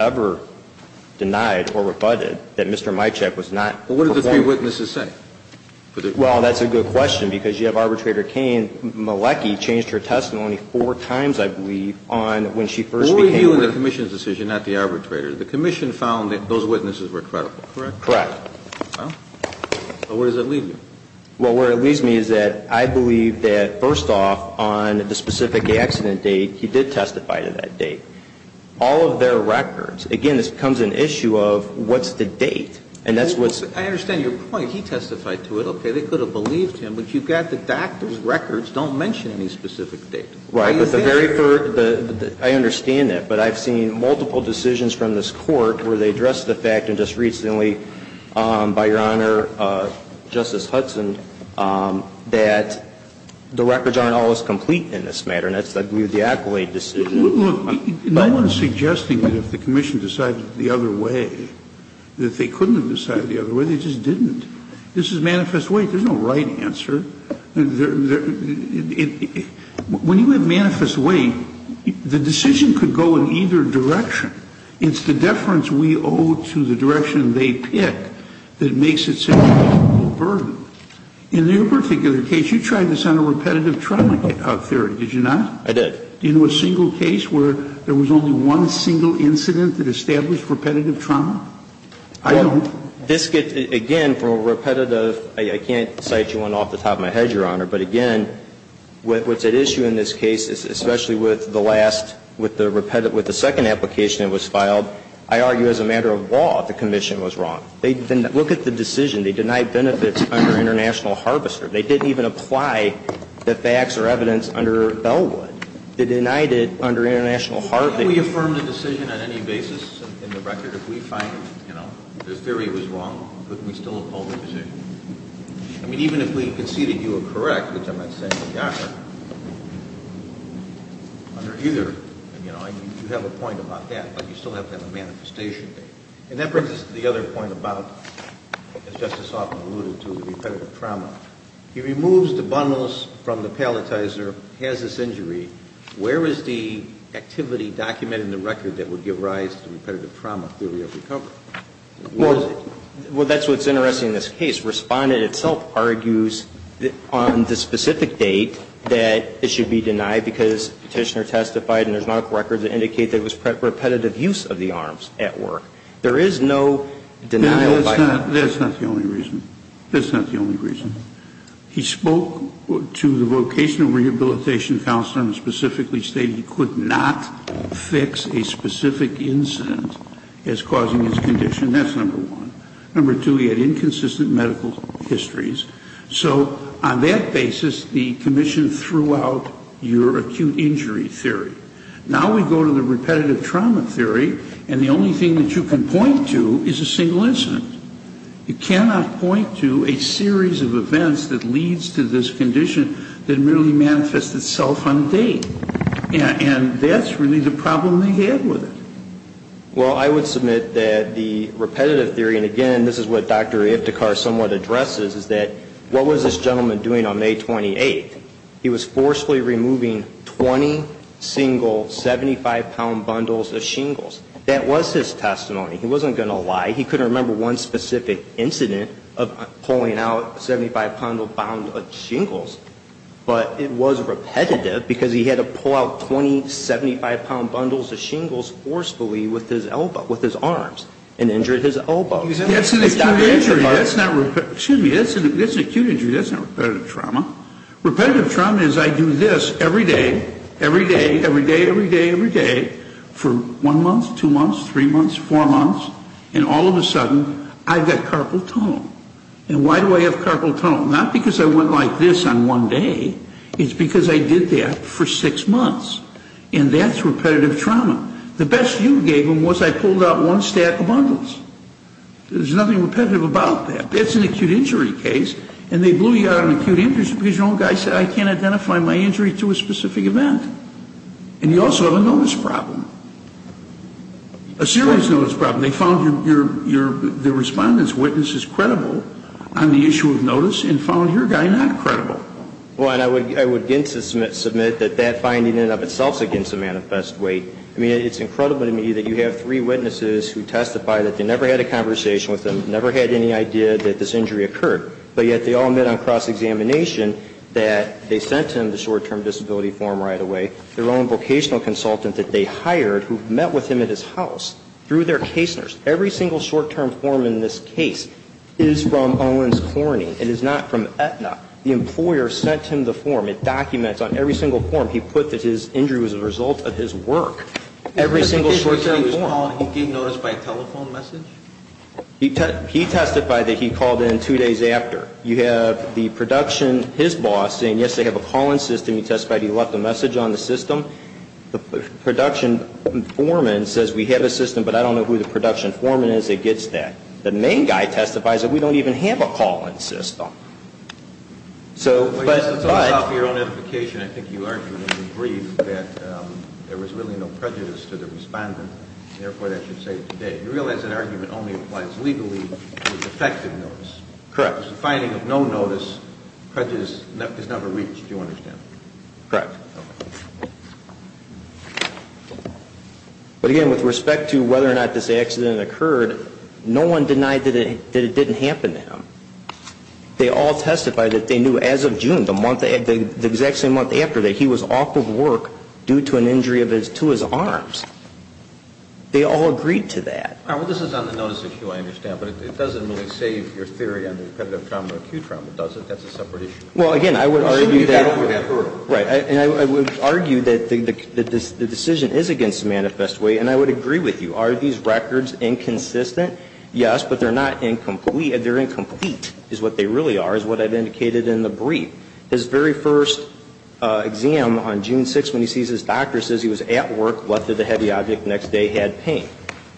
ever denied or rebutted that Mr. Myczek was not performing. But what did the three witnesses say? Well, that's a good question, because you have Arbitrator Cain. Malecki changed her testimony four times, I believe, on when she first became... Who were you in the Commission's decision, not the arbitrator? The Commission found that those witnesses were credible, correct? Correct. Well, where does that leave you? Well, where it leaves me is that I believe that, first off, on the specific accident date, he did testify to that date. All of their records. Again, this becomes an issue of what's the date. And that's what's... I understand your point. He testified to it, okay? They could have believed him. But you've got the doctor's records. Don't mention any specific date. Right. But the very first... I understand that. But I've seen multiple decisions from this Court where they address the fact, and just recently, by Your Honor, Justice Hudson, that the records aren't all as complete in this matter. And that's the accolade decision. Look, no one is suggesting that if the Commission decided the other way, that they couldn't have decided the other way. They just didn't. This is manifest weight. There's no right answer. When you have manifest weight, the decision could go in either direction. It's the deference we owe to the direction they pick that makes it such a burden. In your particular case, you tried this on a repetitive trial theory. Did you not? I did. Do you know a single case where there was only one single incident that established repetitive trauma? I don't. Well, this gets, again, from a repetitive... I can't cite you one off the top of my head, Your Honor. But again, what's at issue in this case, especially with the last, with the second application that was filed, I argue as a matter of law, the Commission was wrong. They didn't look at the decision. They denied benefits under international harvester. They didn't even apply the facts or evidence under Bellwood. They denied it under international harvester. How do we affirm the decision on any basis in the record if we find, you know, the theory was wrong? Couldn't we still uphold the decision? I mean, even if we conceded you were correct, which I'm not saying, Your Honor, under either, you know, you have a point about that, but you still have to have a manifestation. And that brings us to the other point about, as Justice Hoffman alluded to, repetitive trauma. He removes the bundles from the palletizer, has this injury. Where is the activity documented in the record that would give rise to repetitive trauma theory of recovery? Where is it? Well, that's what's interesting in this case. Respondent itself argues that on the specific date that it should be denied because petitioner testified and there's no records that indicate there was repetitive use of the arms at work. There is no denial. That's not the only reason. That's not the only reason. He spoke to the vocational rehabilitation counselor and specifically stated he could not fix a specific incident as causing his condition. That's number one. Number two, he had inconsistent medical histories. So on that basis, the commission threw out your acute injury theory. Now we go to the repetitive trauma theory, and the only thing that you can point to is a single incident. You cannot point to a series of events that leads to this condition that merely manifests itself on date. And that's really the problem they had with it. Well, I would submit that the repetitive theory, and again, this is what Dr. Iptekar somewhat addresses, is that what was this gentleman doing on May 28th? He was forcefully removing 20 single 75-pound bundles of shingles. That was his testimony. He wasn't going to lie. He couldn't remember one specific incident of pulling out 75-pound bundles of shingles. But it was repetitive because he had to pull out 20 75-pound bundles of shingles forcefully with his elbow, with his arms, and injured his elbow. That's an acute injury. That's not repetitive. Excuse me. That's an acute injury. That's not repetitive trauma. Repetitive trauma is I do this every day, every day, every day, every day, every day, for one month, two months, three months, four months, and all of a sudden I've got carpal tunnel. And why do I have carpal tunnel? Not because I went like this on one day. It's because I did that for six months. And that's repetitive trauma. The best you gave them was I pulled out one stack of bundles. There's nothing repetitive about that. That's an acute injury case. And they blew you out on acute injury because your own guy said I can't identify my injury to a specific event. And you also have a notice problem, a serious notice problem. They found your respondent's witnesses credible on the issue of notice and found your guy not credible. Well, and I would again submit that that finding in and of itself is against the manifest weight. I mean, it's incredible to me that you have three witnesses who testify that they never had a conversation with them, never had any idea that this injury occurred, but yet they all met on cross-examination that they sent him the short-term disability form right away, their own vocational consultant that they hired who met with him at his house through their case nurse. Every single short-term form in this case is from Owens Corning. It is not from Aetna. The employer sent him the form. It documents on every single form he put that his injury was a result of his work. Every single short-term form. He testified that he called in two days after. You have the production, his boss saying, yes, they have a call-in system. He testified he left a message on the system. The production foreman says we have a system, but I don't know who the production foreman is that gets that. The main guy testifies that we don't even have a call-in system. So, but ‑‑ You realize that argument only applies legally to effective notice. Correct. The finding of no notice is never reached, do you understand? Correct. But, again, with respect to whether or not this accident occurred, no one denied that it didn't happen to him. They all testified that they knew as of June, the exact same month after, that he was off of work due to an injury to his arms. They all agreed to that. All right, well, this is on the notice issue, I understand, but it doesn't really save your theory on the repetitive trauma or acute trauma, does it? That's a separate issue. Well, again, I would argue that ‑‑ As soon as you got over that hurdle. Right. And I would argue that the decision is against the manifest way, and I would agree with you. Are these records inconsistent? Yes, but they're not incomplete. They're incomplete, is what they really are, is what I've indicated in the brief. His very first exam on June 6th, when he sees his doctor, says he was at work, left with a heavy object, next day had pain.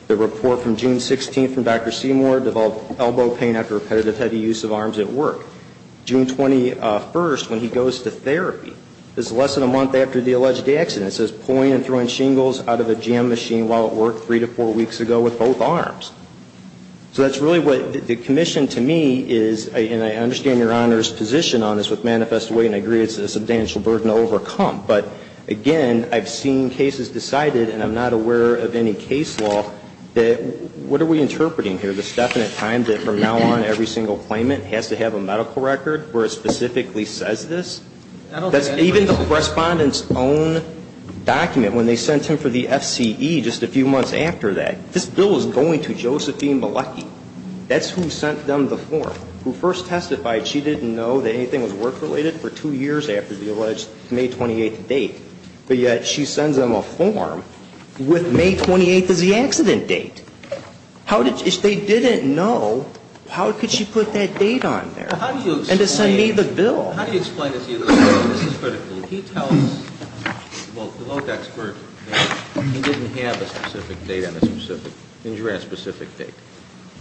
The report from June 16th from Dr. Seymour, developed elbow pain after repetitive heavy use of arms at work. June 21st, when he goes to therapy, is less than a month after the alleged accident. It says pulling and throwing shingles out of a jam machine while at work three to four weeks ago with both arms. So that's really what the commission, to me, is, and I understand Your Honor's position on this with manifest way, and I agree it's a substantial burden to overcome. But, again, I've seen cases decided, and I'm not aware of any case law that ‑‑ what are we interpreting here? This definite time that from now on, every single claimant has to have a medical record where it specifically says this? That's even the Respondent's own document, when they sent him for the FCE just a few months after that. This bill is going to Josephine Malecki. That's who sent them the form. Who first testified she didn't know that anything was work‑related for two years after the alleged May 28th date, but yet she sends them a form with May 28th as the accident date. How did ‑‑ if they didn't know, how could she put that date on there? And to send me the bill? How do you explain this? This is critical. He tells, well, the local expert, he didn't have a specific date on a specific ‑‑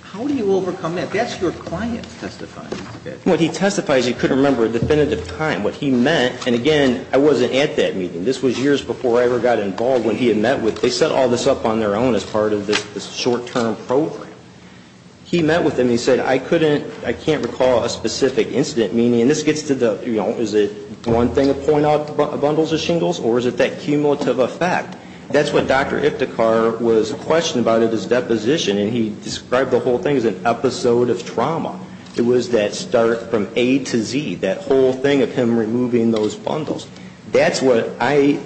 How do you overcome that? That's your client's testifying schedule. What he testifies, he couldn't remember a definitive time. What he meant, and, again, I wasn't at that meeting. This was years before I ever got involved when he had met with ‑‑ they set all this up on their own as part of this short‑term program. He met with them. He said, I couldn't ‑‑ I can't recall a specific incident meeting. And this gets to the, you know, is it one thing to point out bundles of shingles, or is it that cumulative effect? That's what Dr. Iftikhar was questioning about at his deposition, and he described the whole thing as an episode of trauma. It was that start from A to Z, that whole thing of him removing those bundles. That's what I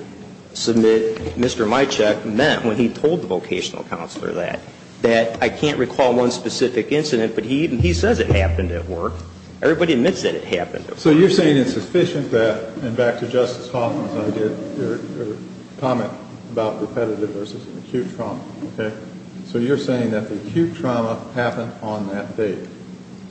submit Mr. Mycheck meant when he told the vocational counselor that, that I can't recall one specific incident, but he says it happened at work. Everybody admits that it happened at work. So you're saying it's sufficient that, and back to Justice Hoffman's idea, your comment about repetitive versus acute trauma, okay? So you're saying that the acute trauma happened on that date.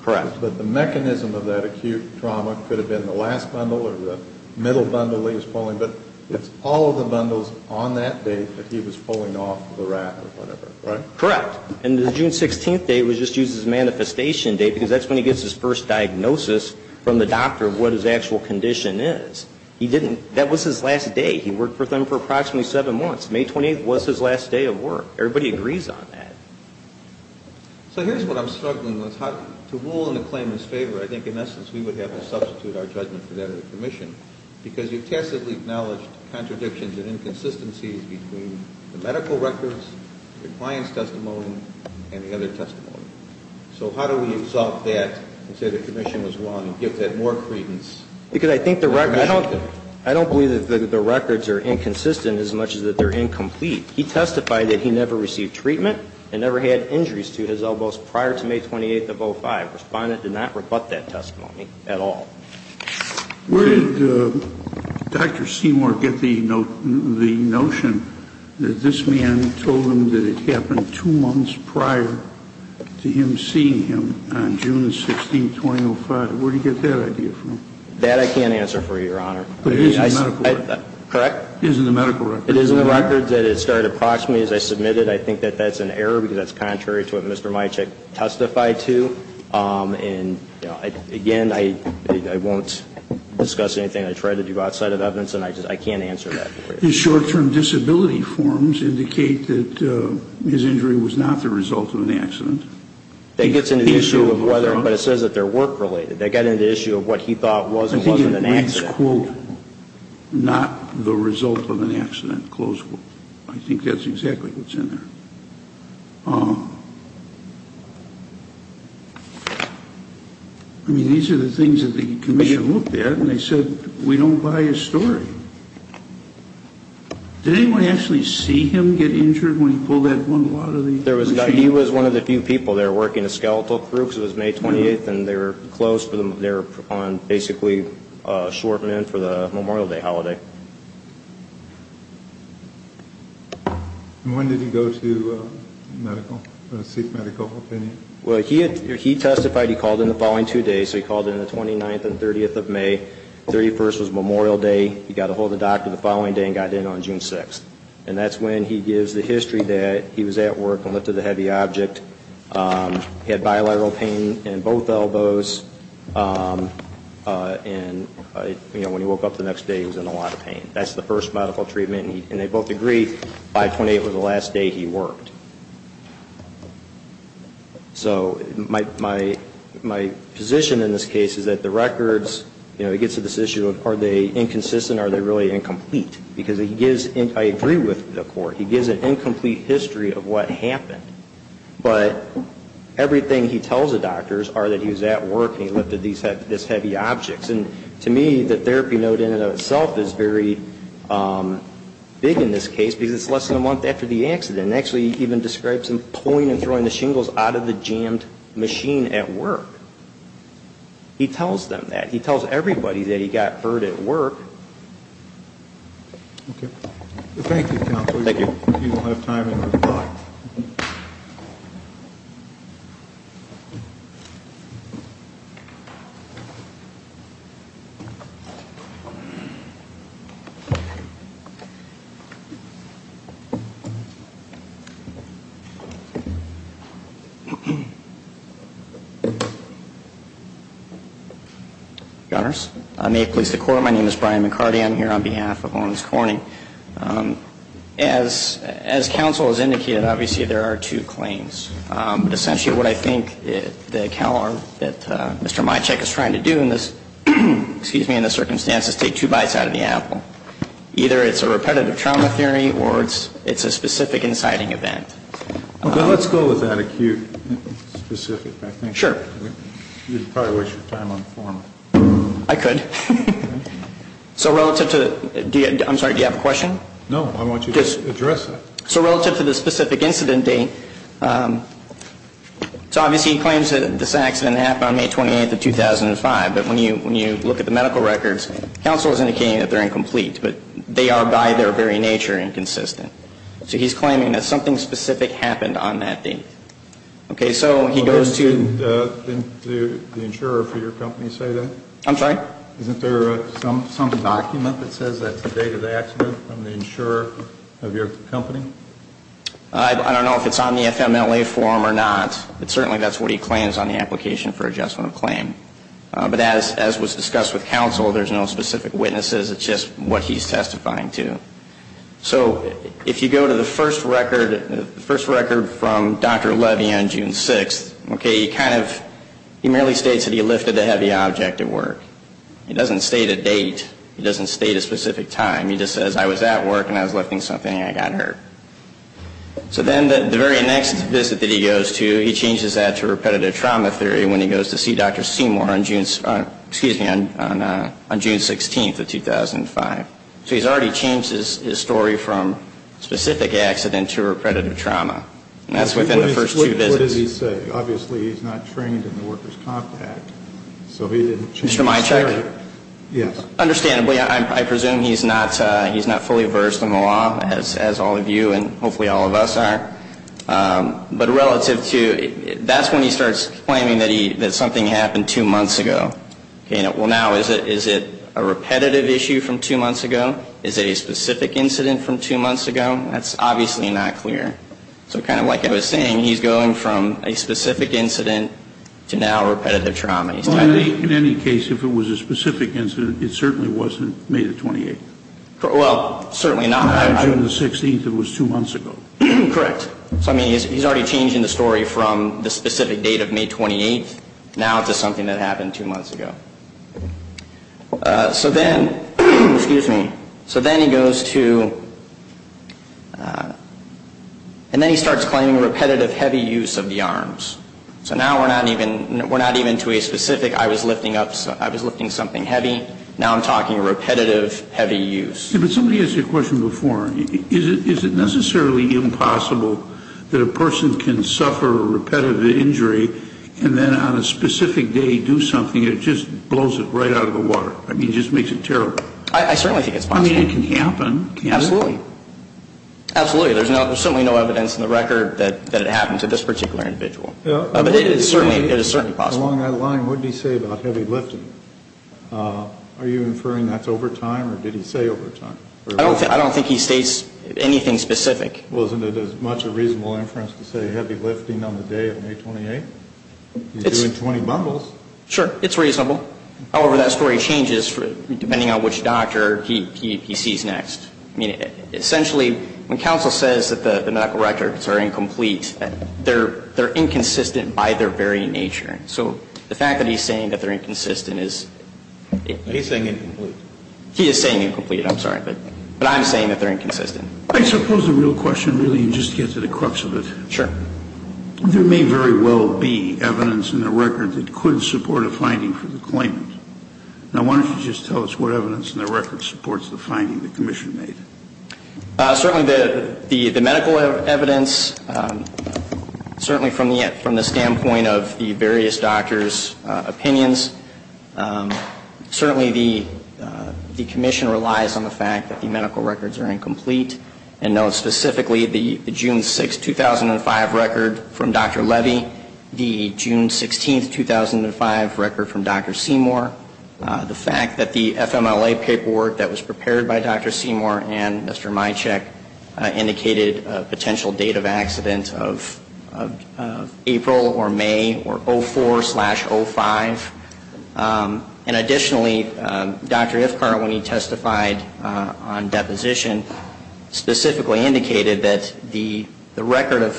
Correct. But the mechanism of that acute trauma could have been the last bundle or the middle bundle he was pulling, but it's all of the bundles on that date that he was pulling off the rat or whatever, right? Correct. And the June 16th date was just used as a manifestation date because that's when he gets his first diagnosis from the doctor of what his actual condition is. He didn't, that was his last day. He worked with him for approximately seven months. May 28th was his last day of work. Everybody agrees on that. So here's what I'm struggling with. To rule in the claimant's favor, I think in essence we would have to substitute our judgment for that of the commission because you've tacitly acknowledged contradictions and inconsistencies between the medical records, the client's testimony, and the other testimony. So how do we exalt that and say the commission was wrong and give that more credence? Because I think the record, I don't believe that the records are inconsistent as much as that they're incomplete. He testified that he never received treatment and never had injuries to his elbows prior to May 28th of 2005. Respondent did not rebut that testimony at all. Where did Dr. Seymour get the notion that this man told him that it happened two months prior to him seeing him on June 16th, 2005? Where did he get that idea from? That I can't answer for you, Your Honor. But it is in the medical record. Correct? It is in the medical record. It is in the record that it started approximately as I submitted. I think that that's an error because that's contrary to what Mr. Majchek testified to. Again, I won't discuss anything I tried to do outside of evidence, and I can't answer that for you. His short-term disability forms indicate that his injury was not the result of an accident. That gets into the issue of whether, but it says that they're work-related. That got into the issue of what he thought was and wasn't an accident. I think it reads, quote, not the result of an accident, close quote. I think that's exactly what's in there. I mean, these are the things that the commission looked at, and they said we don't buy his story. Did anyone actually see him get injured when he pulled that bundle out of the machine? He was one of the few people. They were working a skeletal crew because it was May 28th, and they were closed. They were on basically short-term for the Memorial Day holiday. And when did he go to medical, seek medical opinion? Well, he testified he called in the following two days, so he called in the 29th and 30th of May. The 31st was Memorial Day. He got a hold of the doctor the following day and got in on June 6th. And that's when he gives the history that he was at work and lifted a heavy object. He had bilateral pain in both elbows, and when he woke up the next day, he was in a lot of pain. That's the first medical treatment, and they both agree 5-28 was the last day he worked. So my position in this case is that the records, you know, it gets to this issue of are they inconsistent? Are they really incomplete? Because I agree with the court. He gives an incomplete history of what happened. But everything he tells the doctors are that he was at work and he lifted these heavy objects. And to me, the therapy note in and of itself is very big in this case because it's less than a month after the accident. It actually even describes him pulling and throwing the shingles out of the jammed machine at work. He tells them that. He tells everybody that he got hurt at work. Okay. Thank you, Counselor. Thank you. We will have time after the clock. May it please the Court, my name is Brian McCarty. I'm here on behalf of Lawrence Corning. As Counsel has indicated, obviously, there are two claims. Essentially what I think that Mr. Micek is trying to do in this, excuse me, in this circumstance is take two bites out of the apple. Either it's a repetitive trauma theory or it's a specific inciting event. Let's go with that acute specific. Sure. You'd probably waste your time on form. I could. So relative to, I'm sorry, do you have a question? No, I want you to address it. So relative to the specific incident date, so obviously he claims that this accident happened on May 28th of 2005. But when you look at the medical records, Counsel is indicating that they're incomplete. But they are by their very nature inconsistent. So he's claiming that something specific happened on that date. Okay. So he goes to. Didn't the insurer for your company say that? I'm sorry? Isn't there some document that says that's the date of the accident from the insurer of your company? I don't know if it's on the FMLA form or not. But certainly that's what he claims on the application for adjustment of claim. But as was discussed with Counsel, there's no specific witnesses. It's just what he's testifying to. So if you go to the first record, the first record from Dr. Levy on June 6th. He merely states that he lifted a heavy object at work. He doesn't state a date. He doesn't state a specific time. He just says I was at work and I was lifting something and I got hurt. So then the very next visit that he goes to, he changes that to repetitive trauma theory when he goes to see Dr. Seymour on June 16th of 2005. So he's already changed his story from specific accident to repetitive trauma. And that's within the first two visits. What does he say? Obviously he's not trained in the workers' compact. So he didn't change his story. Mr. Mycheck? Yes. Understandably, I presume he's not fully versed in the law, as all of you and hopefully all of us are. But relative to ñ that's when he starts claiming that something happened two months ago. Well, now, is it a repetitive issue from two months ago? Is it a specific incident from two months ago? That's obviously not clear. So kind of like I was saying, he's going from a specific incident to now repetitive trauma. In any case, if it was a specific incident, it certainly wasn't May the 28th. Well, certainly not. On June the 16th, it was two months ago. Correct. So, I mean, he's already changing the story from the specific date of May 28th now to something that happened two months ago. So then, excuse me, so then he goes to ñ and then he starts claiming repetitive heavy use of the arms. So now we're not even ñ we're not even to a specific I was lifting up ñ I was lifting something heavy. Now I'm talking repetitive heavy use. Yeah, but somebody asked you a question before. Is it necessarily impossible that a person can suffer a repetitive injury and then on a specific day do something that just blows it right out of the water? I mean, it just makes it terrible. I certainly think it's possible. I mean, it can happen. Absolutely. Absolutely. There's certainly no evidence in the record that it happened to this particular individual. But it is certainly possible. Along that line, what did he say about heavy lifting? Are you inferring that's over time or did he say over time? I don't think he states anything specific. Well, isn't it as much a reasonable inference to say heavy lifting on the day of May 28th? He's doing 20 bundles. Sure. It's reasonable. However, that story changes depending on which doctor he sees next. I mean, essentially, when counsel says that the medical records are incomplete, they're inconsistent by their very nature. So the fact that he's saying that they're inconsistent is ñ He's saying incomplete. He is saying incomplete. I'm sorry. But I'm saying that they're inconsistent. I suppose the real question, really, and just to get to the crux of it. Sure. There may very well be evidence in the record that could support a finding for the claimant. Now, why don't you just tell us what evidence in the record supports the finding the commission made? Certainly the medical evidence. Certainly from the standpoint of the various doctors' opinions. Certainly the commission relies on the fact that the medical records are incomplete and notes specifically the June 6th, 2005 record from Dr. Levy, the June 16th, 2005 record from Dr. Seymour, the fact that the FMLA paperwork that was prepared by Dr. Seymour and Mr. Mycheck indicated a potential date of accident of April or May or 04 slash 05. And additionally, Dr. Ifkar, when he testified on deposition, specifically indicated that the record of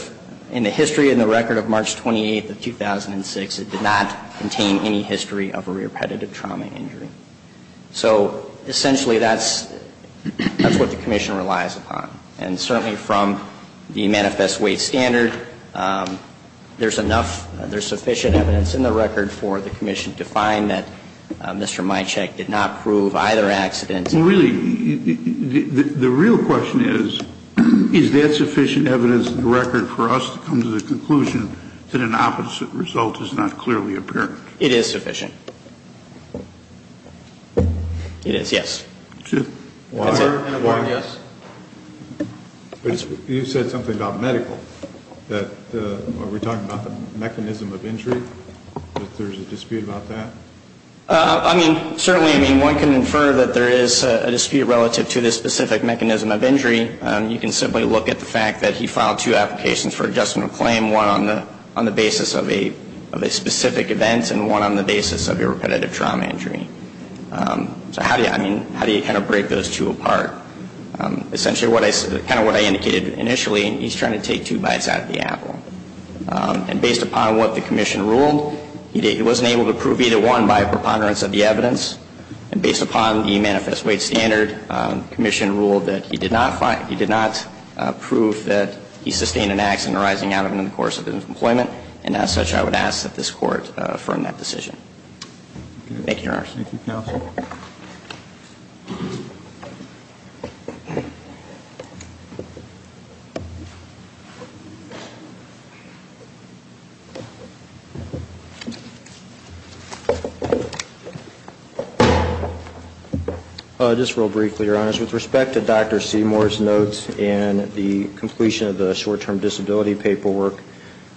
ñ in the history in the record of March 28th of 2006, it did not contain any history of a repetitive trauma injury. So essentially that's what the commission relies upon. And certainly from the manifest weight standard, there's sufficient evidence in the record for the commission to find that Mr. Mycheck did not prove either accident. Well, really, the real question is, is that sufficient evidence in the record for us to come to the conclusion that an opposite result is not clearly apparent? It is sufficient. It is, yes. Water? You said something about medical. Are we talking about the mechanism of injury, that there's a dispute about that? I mean, certainly one can infer that there is a dispute relative to the specific mechanism of injury. You can simply look at the fact that he filed two applications for adjustment of claim, one on the basis of a specific event and one on the basis of a repetitive trauma injury. So how do you kind of break those two apart? Essentially, kind of what I indicated initially, he's trying to take two bites out of the apple. And based upon what the commission ruled, he wasn't able to prove either one by a preponderance of the evidence. And based upon the manifest weight standard, the commission ruled that he did not prove that he sustained an accident arising out of and in the course of his employment. And as such, I would ask that this Court affirm that decision. Thank you, Your Honor. Thank you, Counsel. Just real briefly, Your Honor, with respect to Dr. Seymour's notes and the completion of the short-term disability paperwork,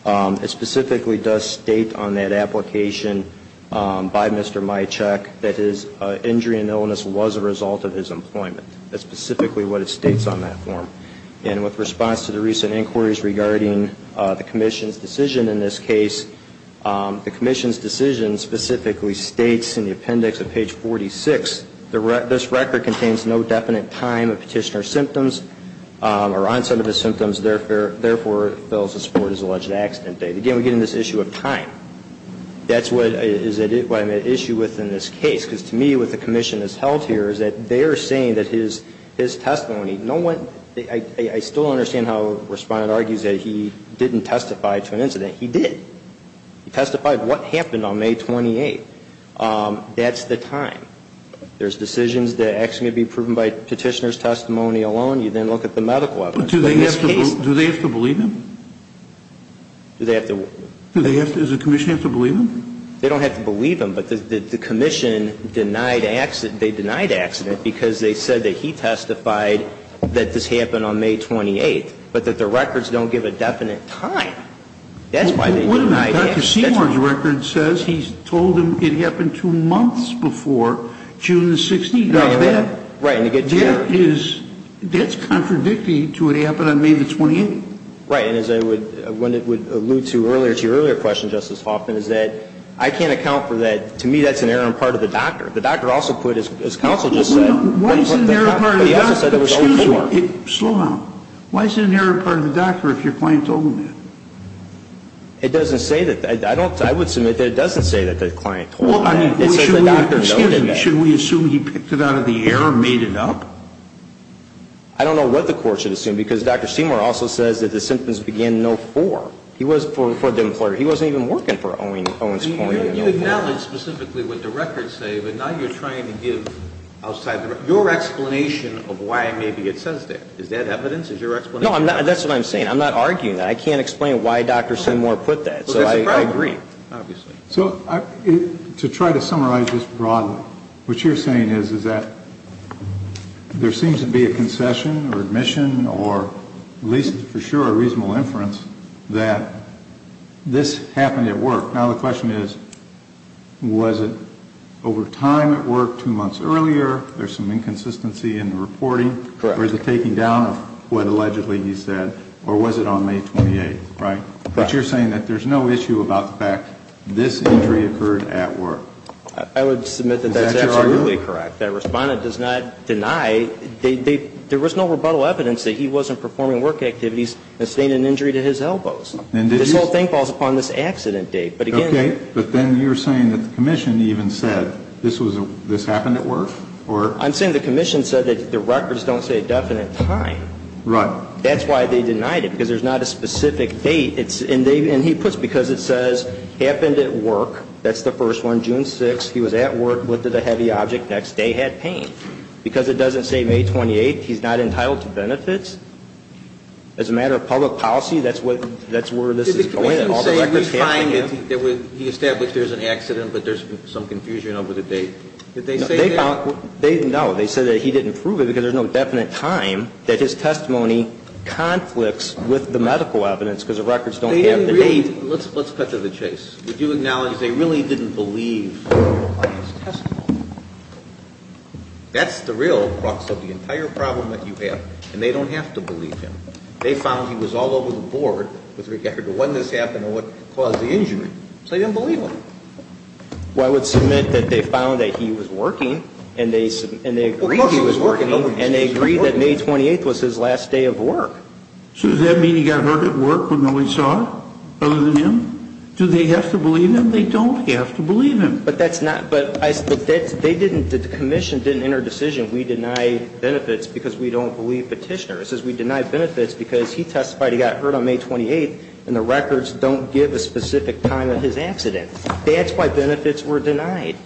it specifically does state on that application by Mr. Majchek that his injury and illness was a result of his employment. That's specifically what it states on that form. And with response to the recent inquiries regarding the commission's decision in this case, the commission's decision specifically states in the appendix at page 46, this record contains no definite time of petitioner symptoms or onset of the symptoms, therefore fails to support his alleged accident date. Again, we're getting this issue of time. That's what I'm at issue with in this case, because to me what the commission has held here is that they are saying that his testimony, no one, I still don't understand how Respondent argues that he didn't testify to an incident. He did. He testified what happened on May 28th. That's the time. There's decisions that are actually going to be proven by petitioner's testimony alone. You then look at the medical evidence. Do they have to believe him? Do they have to? Does the commission have to believe him? They don't have to believe him, but the commission denied accident. They denied accident because they said that he testified that this happened on May 28th, but that the records don't give a definite time. That's why they denied accident. Wait a minute. Dr. Seward's record says he told him it happened two months before June 16th. Right. That's contradicting to what happened on May 28th. Right. And as I would allude to earlier to your earlier question, Justice Hoffman, is that I can't account for that. To me that's an error on part of the doctor. The doctor also put, as counsel just said, Why is it an error on part of the doctor? Excuse me. Slow down. Why is it an error on part of the doctor if your client told him that? It doesn't say that. I would submit that it doesn't say that the client told him that. Excuse me. Should we assume he picked it out of the air and made it up? I don't know what the court should assume because Dr. Seward also says that the symptoms begin no 4. He wasn't for the employer. He wasn't even working for Owens Point. You acknowledge specifically what the records say, but now you're trying to give your explanation of why maybe it says that. Is that evidence? Is your explanation? No, that's what I'm saying. I'm not arguing that. I can't explain why Dr. Seward put that, so I agree. So to try to summarize this broadly, what you're saying is that there seems to be a concession or admission or at least for sure a reasonable inference that this happened at work. Now, the question is, was it over time at work, two months earlier? There's some inconsistency in the reporting. Correct. Or is it taking down of what allegedly he said, or was it on May 28th, right? Correct. But you're saying that there's no issue about the fact this injury occurred at work. I would submit that that's absolutely correct. That respondent does not deny. There was no rebuttal evidence that he wasn't performing work activities and sustained an injury to his elbows. This whole thing falls upon this accident date. Okay, but then you're saying that the commission even said this happened at work? I'm saying the commission said that the records don't say a definite time. Right. That's why they denied it, because there's not a specific date. And he puts because it says happened at work. That's the first one. June 6th, he was at work with the heavy object. Next day, had pain. Because it doesn't say May 28th, he's not entitled to benefits. As a matter of public policy, that's where this is going. Did the commission say we find that he established there's an accident, but there's some confusion over the date? Did they say that? No. They said that he didn't prove it because there's no definite time that his testimony conflicts with the medical evidence because the records don't have the date. Let's cut to the chase. Would you acknowledge they really didn't believe on his testimony? That's the real crux of the entire problem that you have. And they don't have to believe him. They found he was all over the board with regard to when this happened and what caused the injury. So they didn't believe him. Well, I would submit that they found that he was working and they agreed he was working. And they agreed that May 28th was his last day of work. So does that mean he got hurt at work when no one saw it other than him? Do they have to believe him? They don't have to believe him. But that's not, but they didn't, the commission didn't enter a decision. We deny benefits because we don't believe Petitioner. It says we deny benefits because he testified he got hurt on May 28th and the records don't give a specific time of his accident. That's why benefits were denied.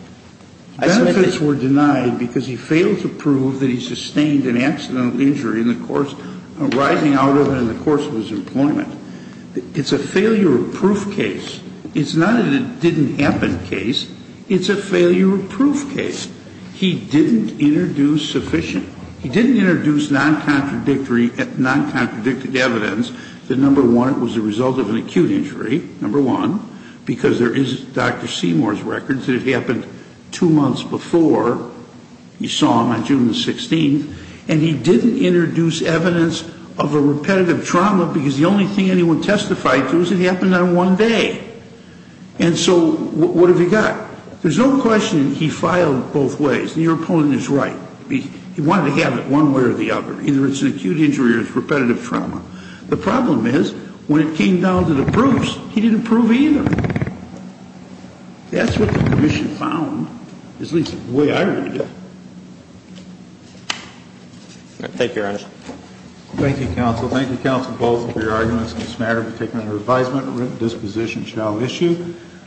Benefits were denied because he failed to prove that he sustained an accidental injury in the course, rising out of it in the course of his employment. It's a failure of proof case. It's not a didn't happen case. It's a failure of proof case. He didn't introduce sufficient, he didn't introduce non-contradictory, non-contradicted evidence that, number one, was the result of an acute injury, number one, because there is Dr. Seymour's records that it happened two months before. You saw him on June the 16th. And he didn't introduce evidence of a repetitive trauma because the only thing anyone testified to is it happened on one day. And so what have you got? There's no question he filed both ways. And your opponent is right. He wanted to have it one way or the other. Either it's an acute injury or it's repetitive trauma. The problem is when it came down to the proofs, he didn't prove either. That's what the commission found, at least the way I read it. Thank you, Your Honor. Thank you, counsel. Thank you, counsel, both, for your arguments. This matter has been taken under advisement. A written disposition shall issue.